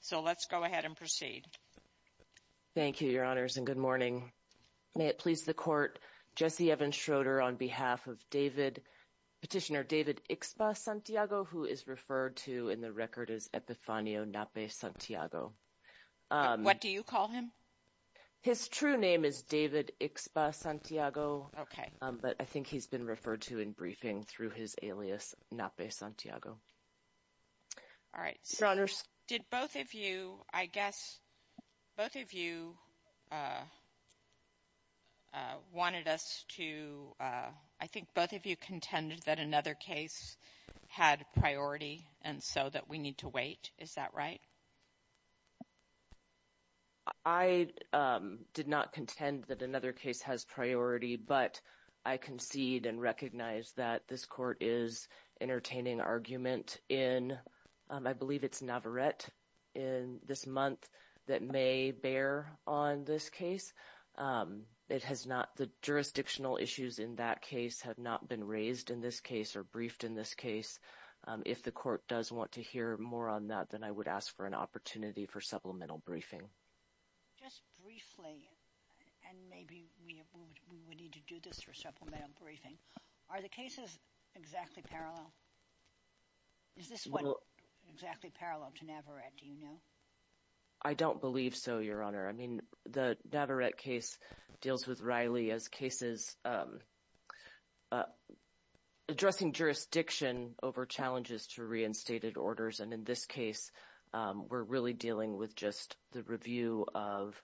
So let's go ahead and proceed. Thank you, your honors, and good morning. May it please the court, Jesse Evans Schroeder on behalf of petitioner David Ikspa-Santiago, who is referred to in the record as Epifanio Nape-Santiago. What do you call him? His true name is David Ikspa-Santiago. Okay. But I think he's been referred to in briefing through his alias Nape-Santiago. All right. Did both of you, I guess, both of you wanted us to, I think both of you contended that another case had priority and so that we need to wait. Is that right? I did not contend that another case has priority, but I concede and recognize that this court is entertaining argument in, I believe it's Navarette in this month that may bear on this case. It has not, the jurisdictional issues in that case have not been raised in this case or briefed in this case. If the court does want to hear more on that, then I would ask for an opportunity for supplemental briefing. Just briefly, and maybe we would need to do this for supplemental briefing. Are the cases exactly parallel? Is this one exactly parallel to Navarette? Do you know? I don't believe so, Your Honor. I mean, the Navarette case deals with Riley as cases addressing jurisdiction over challenges to reinstated orders. And in this case, we're really dealing with just the review of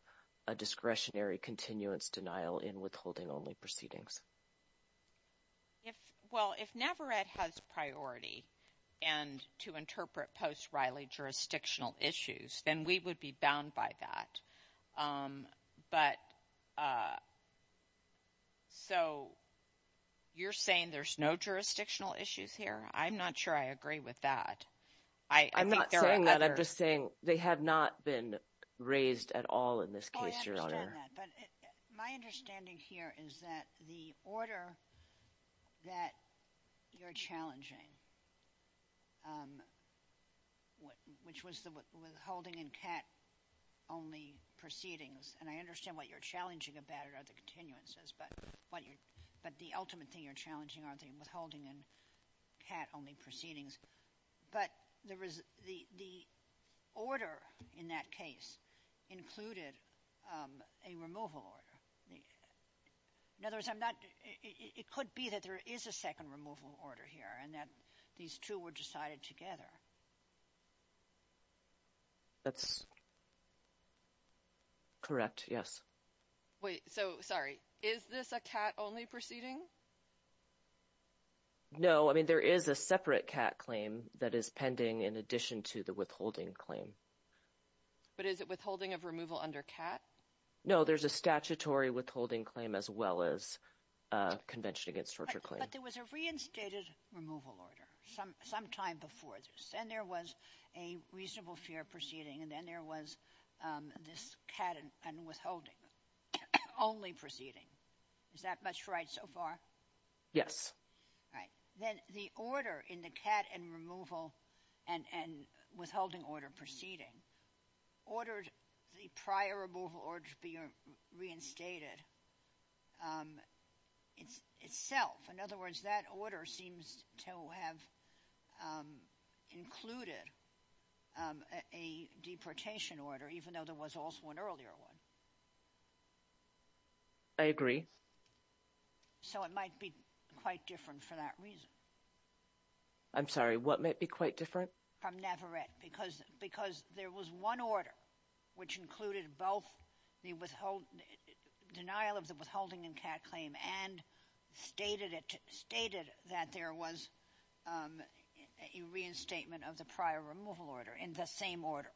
a discretionary continuance denial in withholding proceedings. Well, if Navarette has priority and to interpret post Riley jurisdictional issues, then we would be bound by that. But so you're saying there's no jurisdictional issues here. I'm not sure I agree with that. I'm not saying that. I'm just saying they have not been raised at all in this case, Your Honor. I understand that, but my understanding here is that the order that you're challenging, which was the withholding and cat only proceedings, and I understand what you're challenging about are the continuances, but the ultimate thing you're challenging are withholding and cat only proceedings. But the order in that case included a removal order. In other words, it could be that there is a second removal order here and that these two were decided together. That's correct, yes. Wait, so sorry. Is this a cat only proceeding? No, I mean, there is a separate cat claim that is pending in addition to the withholding claim. But is it withholding of removal under cat? No, there's a statutory withholding claim as well as convention against torture claim. But there was a reinstated removal order some time before this, and there was a reasonable fear proceeding, and then there was this cat and withholding only proceeding. Is that much right so far? Yes. All right. Then the order in the cat and removal and withholding order proceeding ordered the prior removal order to be reinstated itself. In other words, that order seems to have included a deportation order, even though there was also an earlier one. I agree. So it might be quite different for that reason. I'm sorry, what might be quite different? From Navarrette, because there was one order which included both the denial of the withholding cat claim and stated that there was a reinstatement of the prior removal order in the same order.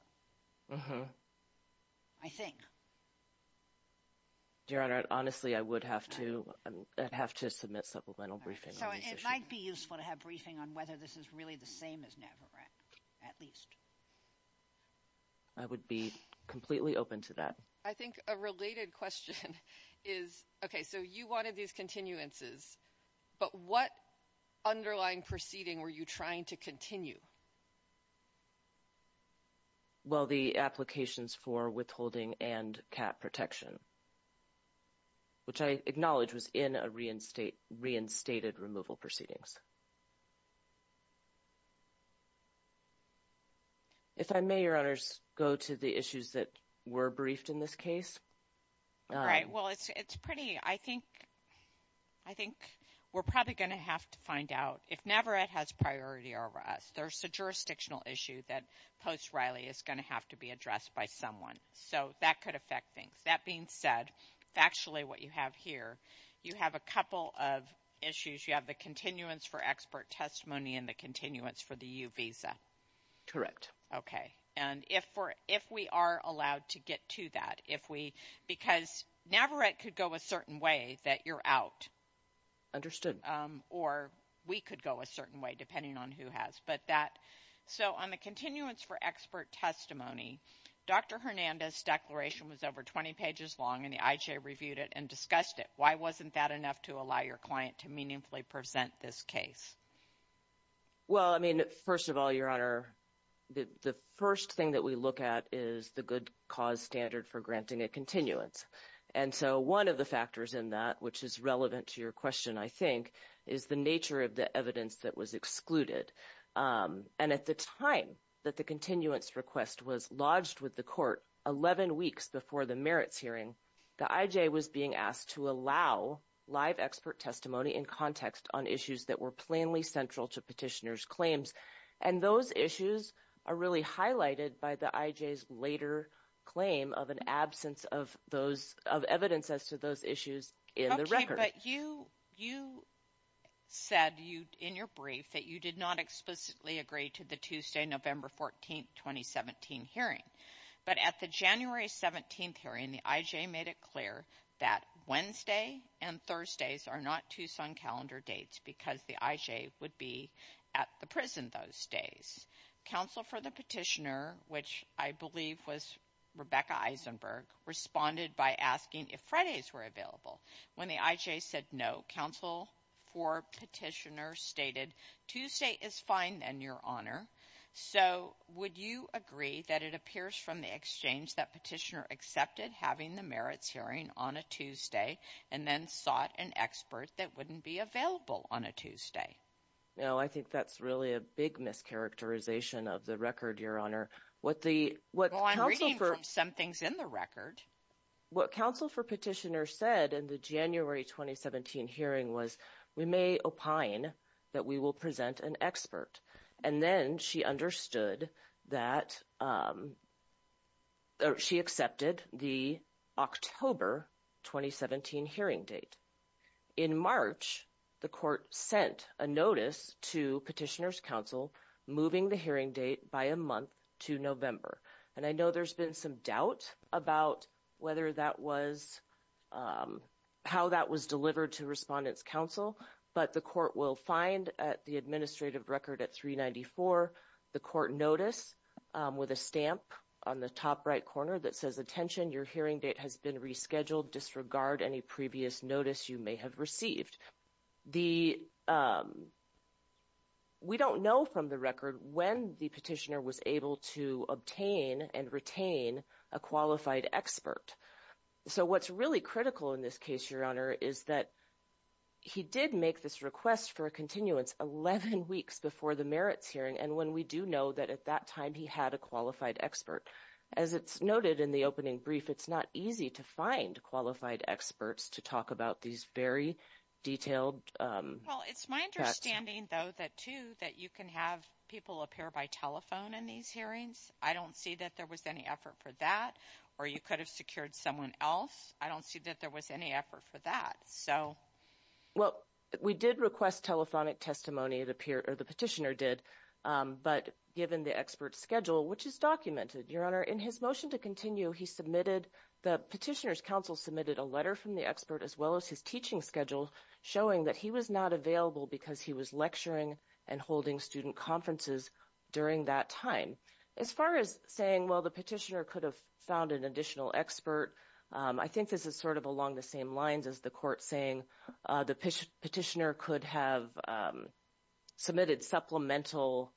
I think. Your Honor, honestly, I would have to have to submit supplemental briefing. So it might be useful to have briefing on whether this is really the same as Navarrette, at least. I would be completely open to that. I think a related question is, okay, so you wanted these continuances, but what underlying proceeding were you trying to continue? Well, the applications for withholding and cat protection, which I acknowledge was in a reinstated removal proceedings. If I may, Your Honors, go to the issues that were briefed in this case. All right. Well, it's pretty, I think we're probably going to have to find out. If Navarrette has priority over us, there's a jurisdictional issue that post Riley is going to have to be addressed by someone. So that could affect things. That being said, factually, what you have here, you have a couple of issues. You have the continuance request, and then you have the expert testimony and the continuance for the U visa. Okay. And if we are allowed to get to that, if we, because Navarrette could go a certain way that you're out. Or we could go a certain way, depending on who has. But that, so on the continuance for expert testimony, Dr. Hernandez declaration was over 20 pages long, and the IJ reviewed it and this case. Well, I mean, first of all, Your Honor, the first thing that we look at is the good cause standard for granting a continuance. And so one of the factors in that, which is relevant to your question, I think is the nature of the evidence that was excluded. And at the time that the continuance request was lodged with the court 11 weeks before the merits hearing, the IJ was being asked to allow live expert testimony in context on issues that were plainly central to petitioner's claims. And those issues are really highlighted by the IJ's later claim of an absence of those, of evidence as to those issues in the record. Okay, but you said in your brief that you did not explicitly agree to the Tuesday, November 14, 2017 hearing. But at the January 17th hearing, the IJ made it clear that Wednesday and Thursdays are not Tucson calendar dates because the IJ would be at the prison those days. Counsel for the petitioner, which I believe was Rebecca Eisenberg, responded by asking if Fridays were available. When the IJ said no, counsel for petitioner stated Tuesday is fine then, Your Honor. So would you agree that it appears from the exchange that petitioner accepted having the merits hearing on a Tuesday and then sought an expert that wouldn't be available on a Tuesday? No, I think that's really a big mischaracterization of the record, Your Honor. Well, I'm reading from some things in the record. What counsel for petitioner said in the January 2017 hearing was we may opine that we will present an expert. And then she understood that she accepted the October 2017 hearing date. In March, the court sent a notice to petitioner's counsel moving the hearing date by a month to November. And I know there's been some doubt about whether that was how that was delivered to respondent's counsel, but the court will find at the administrative record at 394, the court notice with a stamp on the top right corner that says, attention, your hearing date has been rescheduled. Disregard any previous notice you may have received. We don't know from the record when the petitioner was able to obtain and retain a qualified expert. So what's really critical in this case, Your Honor, is that he did make this request for a continuance 11 weeks before the merits hearing. And when we do know that at that time, he had a qualified expert. As it's noted in the opening brief, it's not easy to find qualified experts to talk about these very detailed. Well, it's my understanding though, that too, that you can have people appear by telephone in these hearings. I don't see that there was any effort for that, or you could have secured someone else. I don't see that there was any effort for that. Well, we did request telephonic testimony, the petitioner did, but given the expert's schedule, which is documented, Your Honor, in his motion to continue, the petitioner's counsel submitted a letter from the expert as well as his teaching schedule, showing that he was not available because he was lecturing and holding student conferences during that time. As far as saying, well, the petitioner could have found an additional expert, I think this is sort of along the same lines as the court saying the petitioner could have submitted supplemental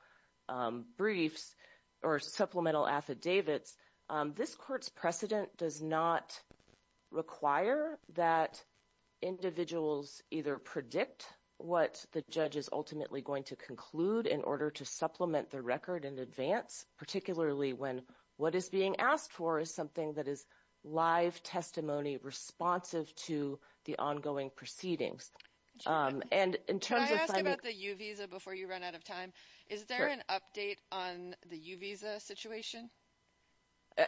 briefs or supplemental affidavits. This court's precedent does not require that individuals either predict what the judge is ultimately going to conclude in supplement the record in advance, particularly when what is being asked for is something that is live testimony responsive to the ongoing proceedings. And in terms of... I asked about the U-Visa before you ran out of time. Is there an update on the U-Visa situation?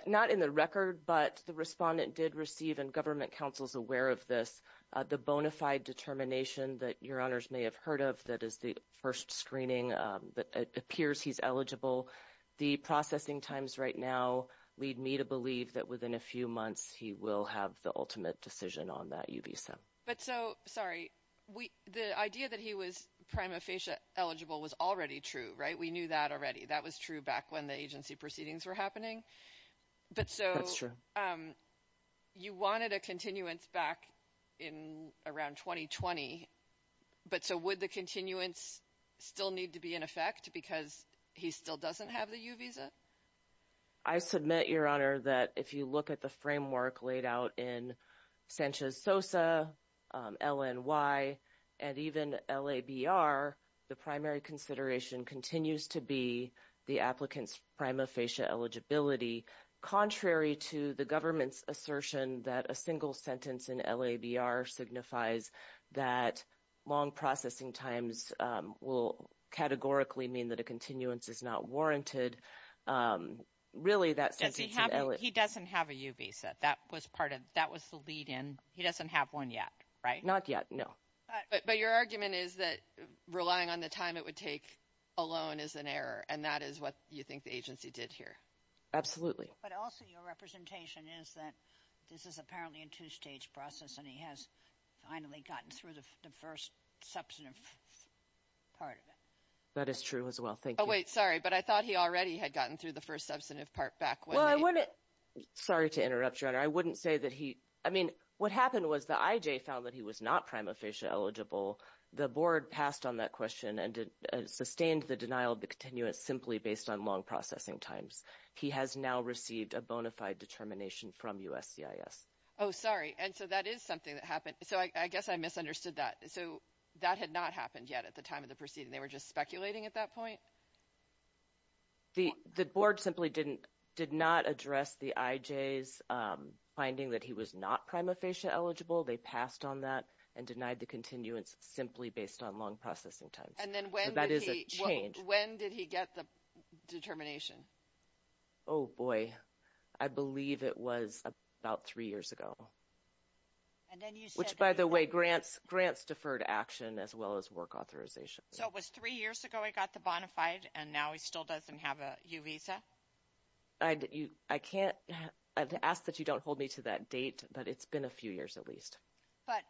Not in the record, but the respondent did receive, and government counsel's aware of this, the bona fide determination that Your Honors may have heard of that is the first screening that appears he's eligible. The processing times right now lead me to believe that within a few months he will have the ultimate decision on that U-Visa. But so, sorry, the idea that he was prima facie eligible was already true, right? We knew that already. That was true back when the agency proceedings were happening. That's true. But so, you wanted a continuance back in around 2020, but so would the continuance still need to be in effect because he still doesn't have the U-Visa? I submit, Your Honor, that if you look at the framework laid out in Sanchez-Sosa, LNY, and even LABR, the primary consideration continues to be the applicant's prima facie eligibility, contrary to the government's assertion that a single sentence in LABR signifies that long processing times will categorically mean that a continuance is not warranted. Really, that sentence in LA... He doesn't have a U-Visa. That was the lead in. He doesn't have one yet, right? Not yet, no. But your argument is that relying on the time it would take alone is an error, and that is what you think the agency did here. Absolutely. But also, your representation is that this is apparently a two-stage process, and he has finally gotten through the first substantive part of it. That is true as well. Thank you. Oh, wait. Sorry, but I thought he already had gotten through the first substantive part back when... Well, I wouldn't... Sorry to interrupt, Your Honor. I wouldn't say that he... I mean, what happened was the IJ found that he was not prima facie eligible. The board passed on that question and sustained the denial of the continuance simply based on long processing times. He has now received a bona fide determination from USCIS. Oh, sorry. And so that is something that happened. So I guess I misunderstood that. So that had not happened yet at the time of the proceeding. They were just speculating at that point? The board simply did not address the IJ's finding that he was not prima facie eligible. They passed on that and denied the continuance simply based on long processing times. And then when did he... So that is a change. When did he get the determination? Oh, boy. I believe it was about three years ago. And then you said... Which, by the way, grants deferred action as well as work authorization. So it was three years ago he got the bona fide, and now he still doesn't have a U visa? I can't... I'd ask that you don't hold me to that date, but it's been a few years at least. But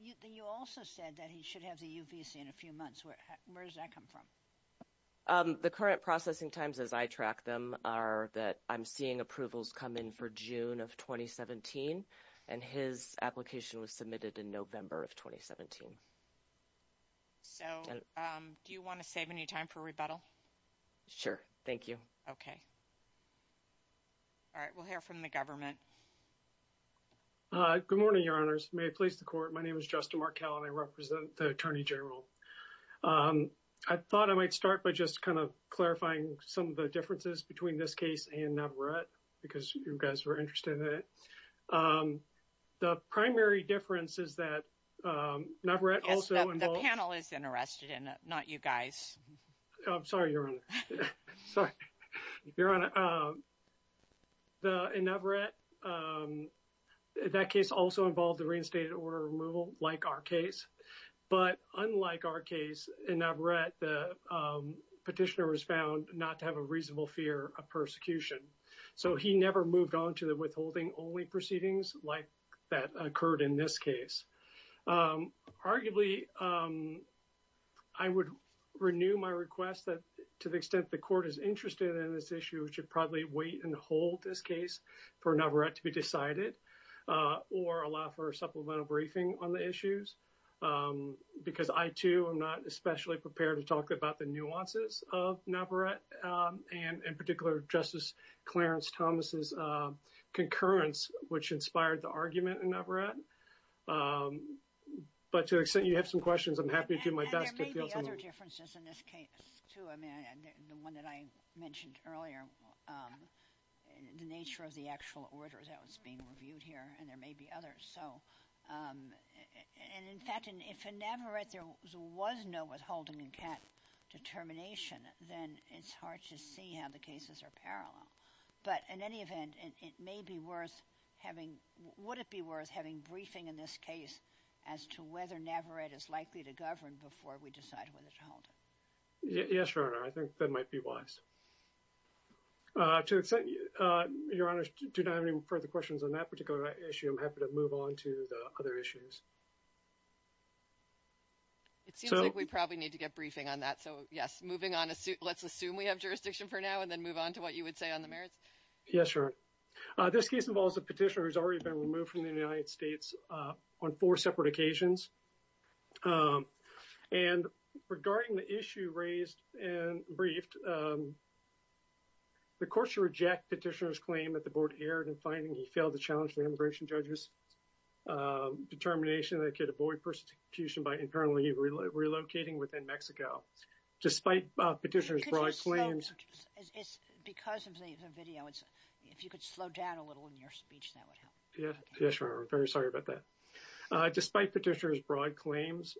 you also said that he should have the U visa in a few months. Where does that come from? The current processing times as I track them are that I'm seeing approvals come in for June of 2017, and his application was submitted in November of 2017. So do you want to save any time for rebuttal? Sure. Thank you. Okay. All right. We'll hear from the government. Good morning, Your Honors. May it please the Court. My name is Justin Markell, and I represent the Attorney General. I thought I might start by just kind of clarifying some of the differences between this case and Navarrette, because you guys were interested in it. The primary difference is that Navarrette also... The panel is interested in it, not you guys. I'm sorry, Your Honor. Sorry. Your Honor, in Navarrette, that case also involved the reinstated order removal, like our case. But unlike our case, in Navarrette, the petitioner was found not to have a reasonable fear of persecution. So he never moved on to the withholding-only proceedings like that occurred in this case. Arguably, I would renew my request that, to the extent the Court is interested in this issue, we should probably wait and hold this case for Navarrette to be decided or allow for a supplemental briefing on the issues, because I, too, am not especially prepared to talk about the nuances of Navarrette and, in particular, Justice Clarence Thomas's concurrence, which inspired the argument in Navarrette. But, to the extent you have some questions, I'm happy to do my best. And there may be other differences in this case, too. I mean, the one that I mentioned earlier, the nature of the actual order that was being reviewed here, and there may be others. So... And, in fact, if in Navarrette there was no withholding-cat determination, then it's hard to see how the cases are parallel. But, in any event, it may be worth having... Would it be worth having briefing in this case as to whether Navarrette is likely to govern before we decide whether to hold it? Yes, Your Honor. I think that might be wise. To the extent, Your Honors, do not have any further questions on that particular issue, I'm happy to move on to the other issues. It seems like we probably need to get briefing on that. So, yes, moving on, let's assume we have jurisdiction for now and then move on to what you would say on the merits. Yes, Your Honor. This case involves a petitioner who has already been removed from the United States on four separate occasions. And regarding the issue raised and briefed, the courts should reject petitioner's claim that the board erred in finding he failed to challenge the immigration judge's determination that he could avoid persecution by internally relocating within Mexico. Despite petitioner's broad claims... Because of the video, if you could slow down a little in your speech, that would help. Yes, Your Honor. I'm very sorry about that. Despite petitioner's broad claims,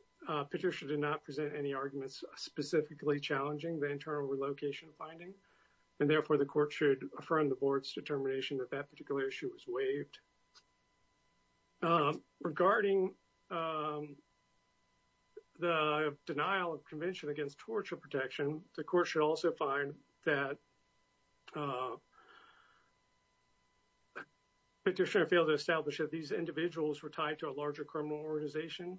petitioner did not present any arguments specifically challenging the internal relocation finding. And therefore, the court should affirm the board's determination that that particular issue was waived. Regarding the denial of convention against torture protection, the court should also find that petitioner failed to establish that these individuals were tied to a larger criminal organization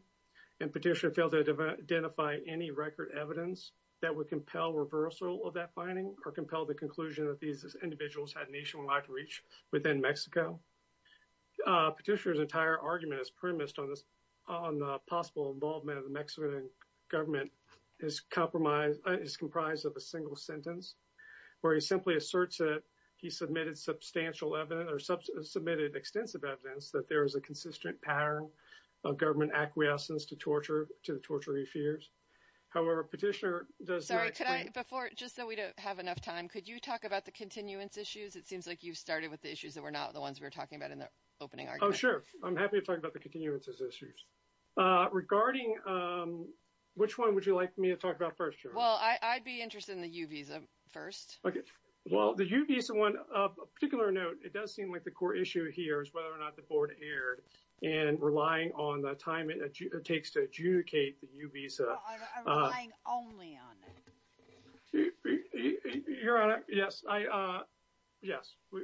and petitioner failed to identify any record evidence that would compel reversal of that finding or compel the conclusion that these individuals had nationwide outreach within Mexico. Petitioner's entire argument is premised on the possible involvement of the Mexican government. His compromise is comprised of a single sentence where he simply asserts that he submitted substantial evidence or submitted extensive evidence that there is a consistent pattern of government acquiescence to torture, to the torture he fears. However, petitioner does... Sorry, could I before, just so we don't have enough time, could you talk about the continuance issues? It seems like you've started with the issues that were not the ones we were talking about in the opening argument. Oh, sure. I'm happy to talk about continuance issues. Regarding, which one would you like me to talk about first? Well, I'd be interested in the U-Visa first. Okay. Well, the U-Visa one, of particular note, it does seem like the core issue here is whether or not the board erred and relying on the time it takes to adjudicate the U-Visa. I'm relying only on that. Your Honor, yes,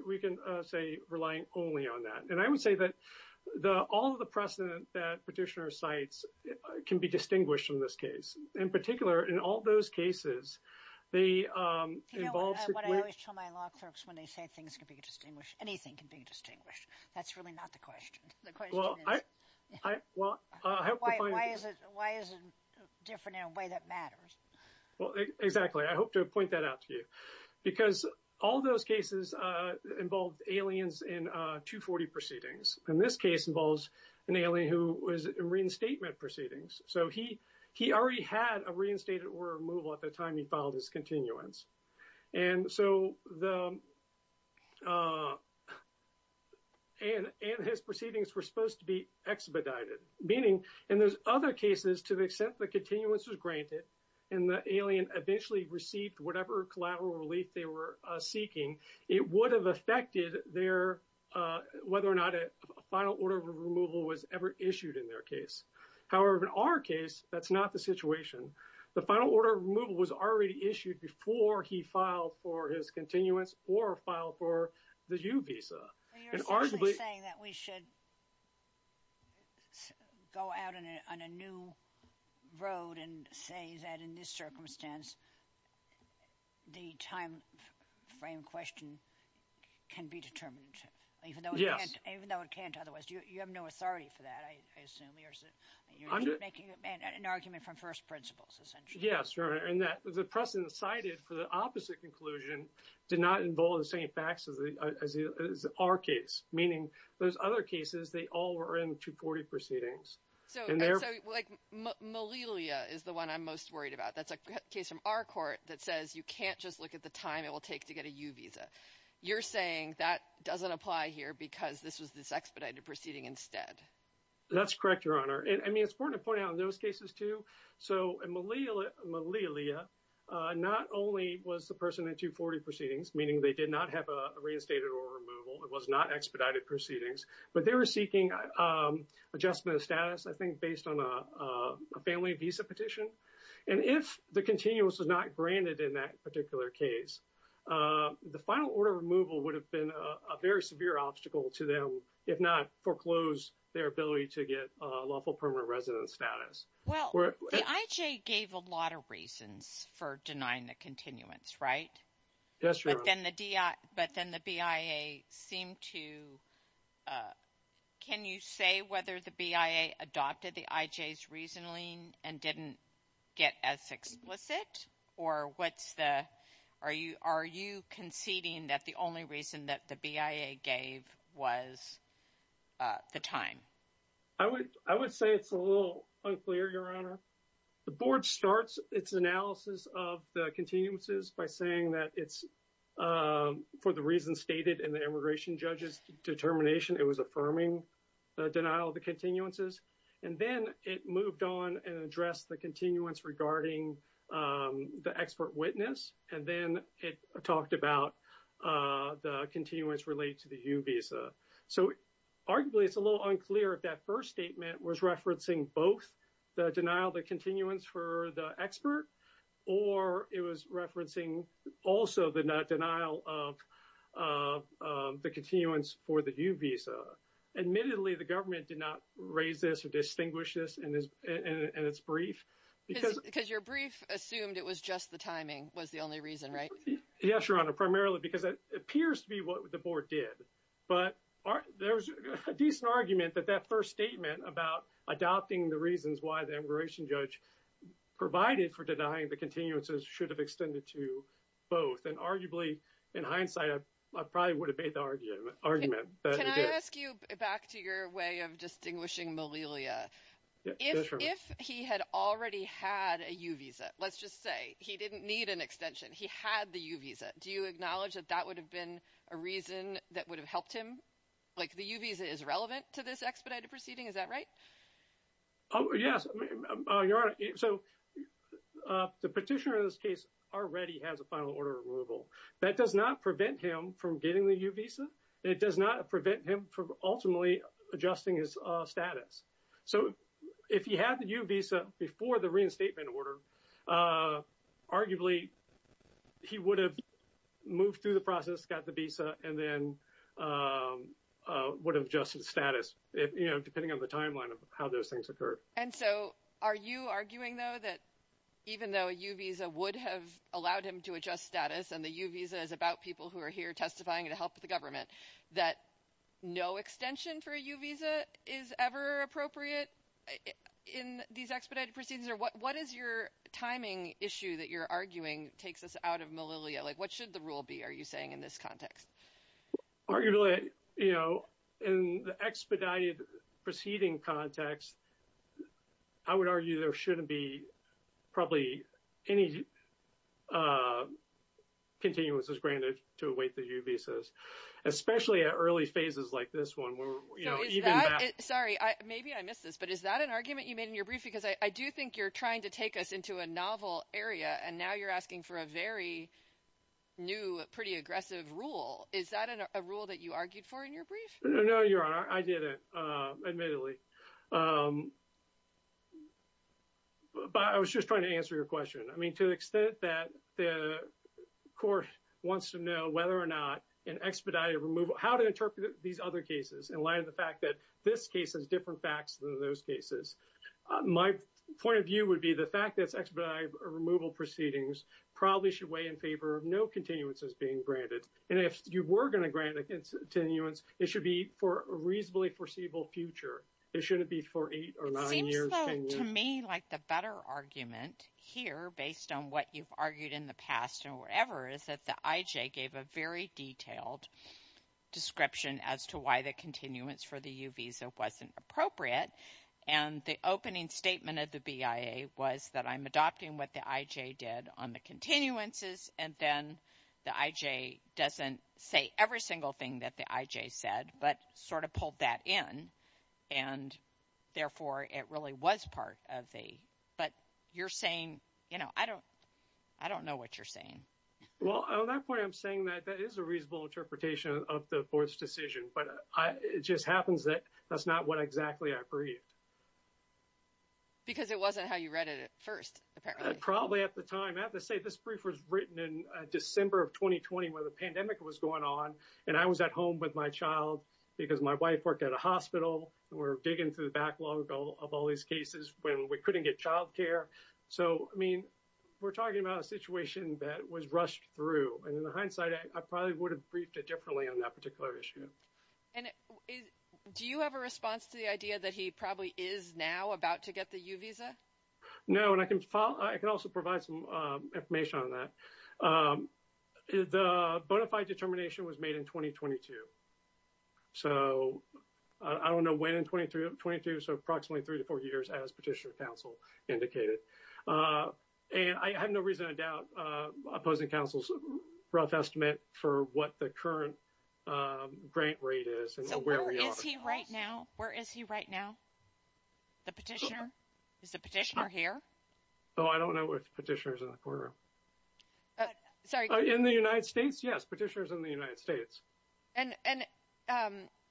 we can say relying only on that. And I would say that all of the precedent that petitioner cites can be distinguished in this case. In particular, in all those cases, they involved... You know what I always tell my law clerks when they say things can be distinguished, anything can be distinguished. That's really not the question. The question is... Well, I hope to find... Why is it different in a way that matters? Well, exactly. I hope to point that out to you. Because all those cases involved aliens in 240 proceedings. And this case involves an alien who was in reinstatement proceedings. So he already had a reinstated order removal at the time he filed his continuance. And so the... And his proceedings were supposed to be expedited. Meaning, in those other cases, to the extent the continuance was granted, and the alien eventually received whatever collateral relief they were seeking, it would have affected their... Whether or not a final order of removal was ever issued in their case. However, in our case, that's not the situation. The final order of removal was already issued before he filed for his continuance or filed for the U-Visa. And arguably... You're saying that we should go out on a new road and say that in this circumstance, the time frame question can be determined. Even though it can't otherwise. You have no authority for that, I assume. You're making an argument from first principles, essentially. Yes, right. And the precedent cited for the opposite conclusion did not involve the same facts as our case. Meaning, those other cases, they all were in 240 proceedings. So Malelia is the one I'm most worried about. That's a case from our court that says you can't just look at the time it will take to get a U-Visa. You're saying that doesn't apply here because this was this expedited proceeding instead. That's correct, Your Honor. I mean, it's important to point out in those cases too. So Malelia not only was the person in 240 proceedings, meaning they did not have a reinstated order removal, it was not expedited proceedings, but they were seeking adjustment of status, I think, based on a family visa petition. And if the continuance was not granted in that particular case, the final order removal would have been a very severe obstacle to them, if not foreclose their ability to get lawful permanent residence status. Well, the IHA gave a lot of reasons for denying the continuance, right? Yes, Your Honor. But then the BIA seemed to... Can you say whether the BIA adopted the IJ's reasoning and didn't get as explicit? Or what's the... Are you conceding that the only reason that the BIA gave was the time? I would say it's a little unclear, Your Honor. The board starts its analysis of the continuances by saying that it's, for the reasons stated in the immigration judge's determination, it was affirming the denial of the continuances. And then it moved on and addressed the continuance regarding the expert witness. And then it talked about the continuance related to the U visa. So arguably, it's a little unclear if that first statement was referencing both the denial of the also the denial of the continuance for the U visa. Admittedly, the government did not raise this or distinguish this in its brief. Because your brief assumed it was just the timing was the only reason, right? Yes, Your Honor, primarily because it appears to be what the board did. But there's a decent argument that that first statement about adopting the reasons why the immigration judge provided for denying the continuances should have extended to both. And arguably, in hindsight, I probably would have made the argument that he did. Can I ask you back to your way of distinguishing Malilia? If he had already had a U visa, let's just say he didn't need an extension, he had the U visa, do you acknowledge that that would have been a reason that would have helped him? Like the U visa is relevant to this expedited proceeding, is that right? Oh, yes, Your Honor. So the petitioner in this case already has a final order of removal. That does not prevent him from getting the U visa. It does not prevent him from ultimately adjusting his status. So if he had the U visa before the reinstatement order, arguably, he would have moved through the process, got the visa, and then would have adjusted status, depending on the timeline of how those things occurred. And so are you arguing, though, that even though a U visa would have allowed him to adjust status, and the U visa is about people who are here testifying to help the government, that no extension for a U visa is ever appropriate in these expedited proceedings? Or what is your timing issue that you're arguing takes us out of Malilia? Like, what should the rule be, are you saying, in this context? Arguably, you know, in the expedited proceeding context, I would argue there shouldn't be probably any continuances granted to await the U visas, especially at early phases like this one. Sorry, maybe I missed this, but is that an argument you made in your brief? Because I do think you're trying to take us into a novel area, and now you're asking for a very new, pretty aggressive rule. Is that a rule that you argued for in your brief? No, Your Honor, I didn't, admittedly. But I was just trying to answer your question. I mean, to the extent that the court wants to know whether or not an expedited removal, how to interpret these other cases in light of the fact that this case has different facts than those cases, my point of view would be the fact that expedited removal proceedings probably should in favor of no continuances being granted. And if you were going to grant continuance, it should be for a reasonably foreseeable future. It shouldn't be for eight or nine years. It seems to me like the better argument here, based on what you've argued in the past or whatever, is that the IJ gave a very detailed description as to why the continuance for the U visa wasn't appropriate. And the opening statement of the BIA was that I'm adopting what the IJ did on the continuances. And then the IJ doesn't say every single thing that the IJ said, but sort of pulled that in. And therefore, it really was part of the, but you're saying, you know, I don't know what you're saying. Well, on that point, I'm saying that that is a reasonable interpretation of the board's decision. But it just happens that that's not what exactly I briefed. Because it wasn't how you read it at first, apparently. Probably at the time. I have to say, this brief was written in December of 2020, when the pandemic was going on. And I was at home with my child because my wife worked at a hospital. We're digging through the backlog of all these cases when we couldn't get child care. So, I mean, we're talking about a situation that was rushed through. And in hindsight, I probably would have briefed it differently on that particular issue. And do you have a response to the idea that he probably is now about to get the U visa? No, and I can also provide some information on that. The bona fide determination was made in 2022. So, I don't know when in 2022, so approximately three to four years, as Petitioner Counsel indicated. And I have no reason to doubt Opposing Counsel's rough estimate for what the current grant rate is and where we are. So, where is he right now? Where is he right now? The Petitioner? Is the Petitioner here? Oh, I don't know if Petitioner's in the courtroom. Sorry. In the United States? Yes, Petitioner's in the United States. And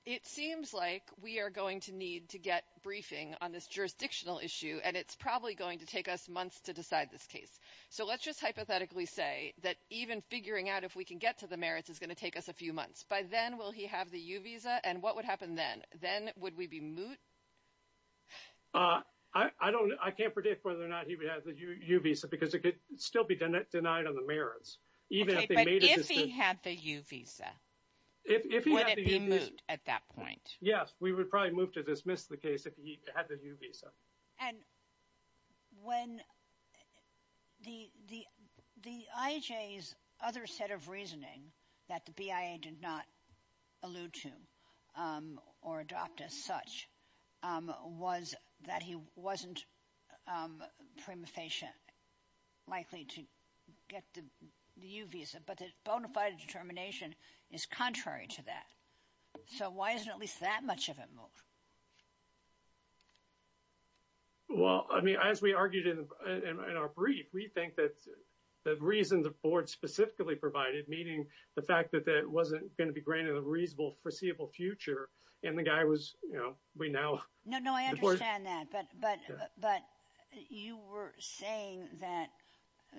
it seems like we are going to need to get briefing on this jurisdictional issue, and it's probably going to take us months to decide this case. So, let's just hypothetically say that even figuring out if we can get to the merits is going to take us a few months. By then, will he have the U visa? And what would happen then? Then, would we be moot? I can't predict whether or not he would have the U visa because it could still be denied on the merits. Okay, but if he had the U visa, would it be moot at that point? Yes, we would probably to dismiss the case if he had the U visa. And when the IHA's other set of reasoning that the BIA did not allude to or adopt as such was that he wasn't prima facie likely to get the U visa, but the bona fide determination is contrary to that. So, why isn't at least that much of it moot? Well, I mean, as we argued in our brief, we think that the reason the board specifically provided, meaning the fact that that wasn't going to be granted a reasonable foreseeable future, and the guy was, you know, we now... No, no, I understand that. But you were saying that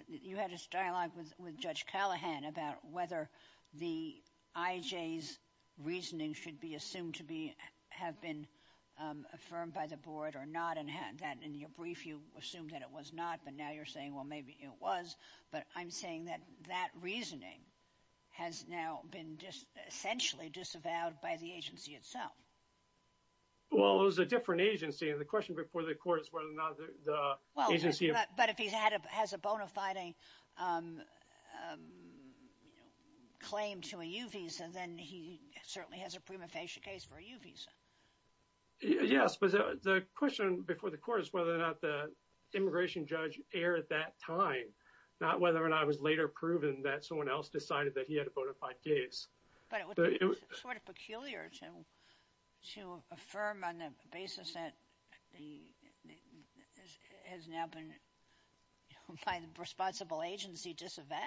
you had a dialogue with Judge Callahan about whether the IHA's reasoning should be assumed to have been affirmed by the board or not, and that in your brief, you assumed that it was not. But now you're saying, well, maybe it was. But I'm saying that that reasoning has now been just essentially disavowed by the agency itself. Well, it was a different agency. And the question before the court is whether or not the agency... Well, but if he has a bona fide claim to a U visa, then he certainly has a prima facie case for a U visa. Yes, but the question before the court is whether or not the immigration judge erred at that time, not whether or not it was later proven that someone else decided that he had a bona fide case. But it was sort of peculiar to affirm on the basis that has now been by the responsible agency disavowed.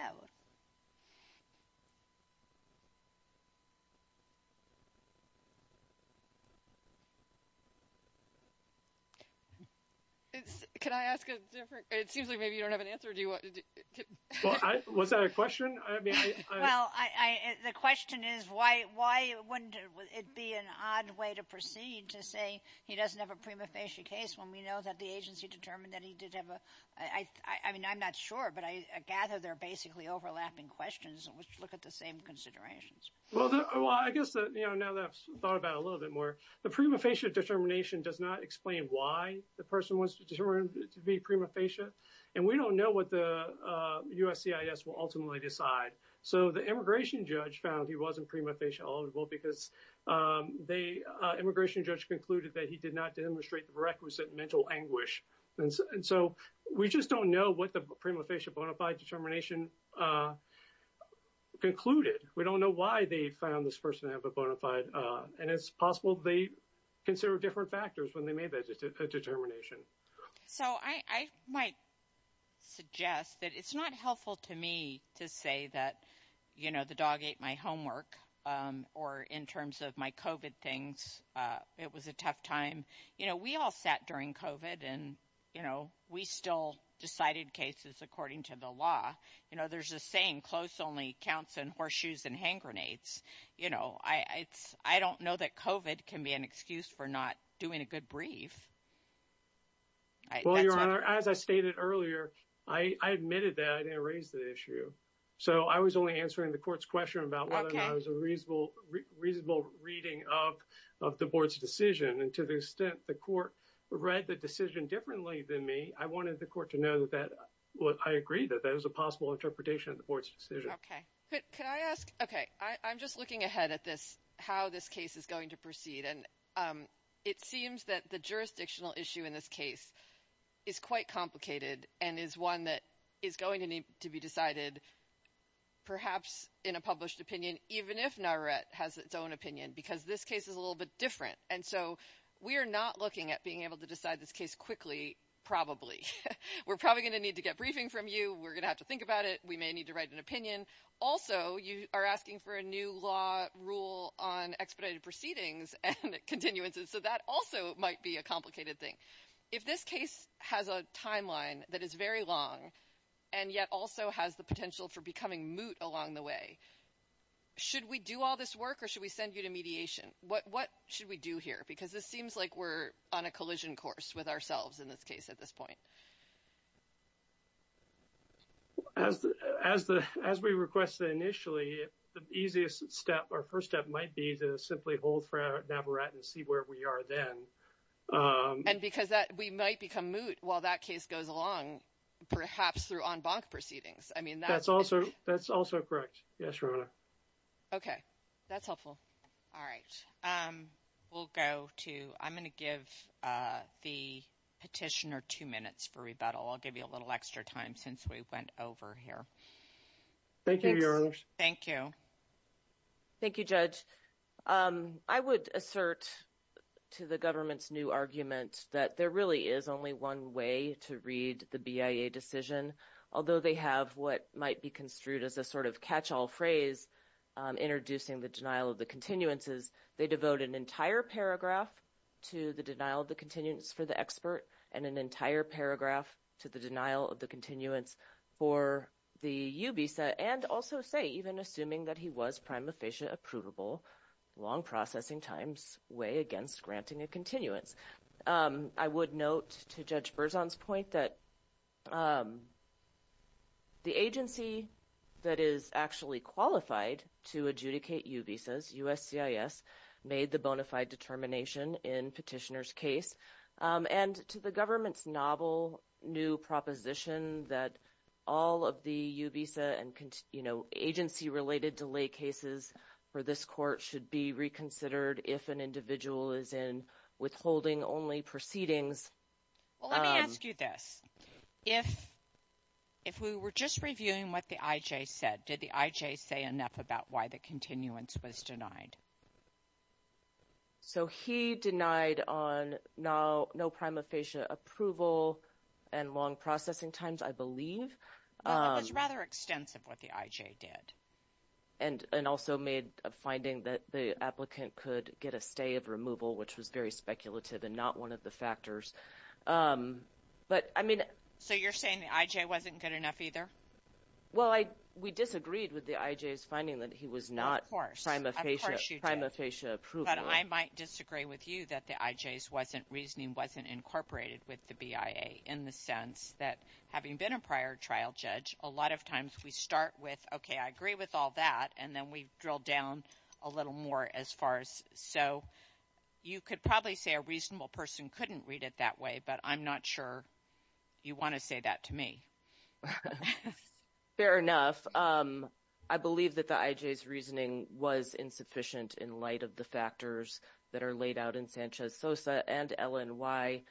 Can I ask a different... It seems like maybe you don't have an answer. Do you want to... Was that a question? Well, the question is why wouldn't it be an odd way to proceed to say he doesn't have a prima facie case when we know that the agency determined that he did have a... I mean, I'm not sure, but I gather they're basically overlapping questions which look at the same considerations. Well, I guess now that I've thought about it a little bit more, the prima facie determination does not explain why the person was determined to be prima facie. And we will ultimately decide. So the immigration judge found he wasn't prima facie eligible because the immigration judge concluded that he did not demonstrate the requisite mental anguish. And so we just don't know what the prima facie bona fide determination concluded. We don't know why they found this person to have a bona fide. And it's possible they consider different factors when they made that determination. So I might suggest that it's not helpful to me to say that the dog ate my homework or in terms of my COVID things, it was a tough time. We all sat during COVID and we still decided cases according to the law. There's a saying, close only counts in horseshoes and hand grenades. I don't know that COVID can be an excuse for not doing a good brief. Well, Your Honor, as I stated earlier, I admitted that I didn't raise the issue. So I was only answering the court's question about whether or not it was a reasonable reading of the board's decision. And to the extent the court read the decision differently than me, I wanted the court to know that I agree that that was a possible interpretation of the board's decision. Okay. Could I ask? Okay. I'm just looking ahead at this, how this case is going to proceed. And it seems that the jurisdictional issue in this case is quite complicated and is one that is going to need to be decided perhaps in a published opinion, even if NARRET has its own opinion, because this case is a little bit different. And so we are not looking at being able to decide this case quickly, probably. We're probably going to need to get briefing from you. We're going to have to think about it. We may need to write an opinion. Also, you are asking for a new law rule on expedited proceedings and continuances. So that also might be a complicated thing. If this case has a timeline that is very long and yet also has the potential for becoming moot along the way, should we do all this work or should we send you to mediation? What should we do here? Because this seems like we're on a collision course with ourselves in this case at this point. As we requested initially, the easiest step or first step might be to simply hold for NARRET and see where we are then. And because we might become moot while that case goes along, perhaps through en banc proceedings. I mean, that's also correct. Yes, Your Honor. Okay. That's helpful. All right. We'll go to, I'm going to give the petitioner two minutes for rebuttal. I'll give you a little extra time since we went over here. Thank you, Your Honor. Thank you. Thank you, Judge. I would assert to the government's new argument that there really is only one way to read the BIA decision. Although they have what might be construed as a sort of phrase introducing the denial of the continuances, they devote an entire paragraph to the denial of the continuance for the expert and an entire paragraph to the denial of the continuance for the UBISA. And also say, even assuming that he was prima facie approvable, long processing times weigh against granting a continuance. I would note to Judge Berzon's point that the agency that is actually qualified to adjudicate UBISAs, USCIS, made the bona fide determination in petitioner's case. And to the government's novel new proposition that all of the UBISA and agency related delay cases for this court should be reconsidered if an individual is in withholding only proceedings. Well, let me ask you this. If we were just reviewing what the IJ said, did the IJ say enough about why the continuance was denied? So he denied on no prima facie approval and long processing times, I believe. Well, it was rather extensive what the IJ did. And also made a finding that the applicant could get a stay of removal, which was very speculative and not one of the factors. But I mean... So you're saying the IJ wasn't good enough either? Well, we disagreed with the IJ's finding that he was not prima facie approvable. But I might disagree with you that the IJ's reasoning wasn't incorporated with the BIA in the sense that having been a prior trial judge, a lot of times we start with, okay, I agree with all that. And then we drill down a little more as far as... So you could probably say a reasonable person couldn't read it that way, but I'm not sure you want to say that to me. Fair enough. I believe that the IJ's reasoning was insufficient in light of the factors that are laid out in Sanchez-Sosa and LNY.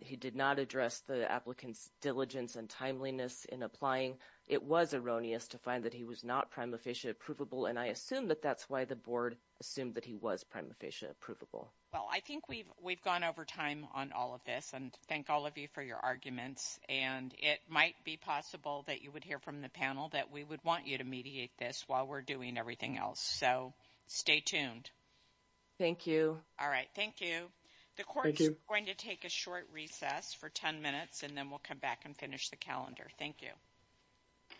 He did not address the applicant's diligence and timeliness in applying. It was erroneous to find that he was not prima facie approvable. And I assume that that's why the board assumed that he was prima facie approvable. Well, I think we've gone over time on all of this. And thank all of you for your arguments. And it might be possible that you would hear from the panel that we would want you to mediate this while we're doing everything else. So stay tuned. Thank you. All right. Thank you. The court is going to take a short recess for 10 minutes, and then we'll come back and finish the calendar. Thank you.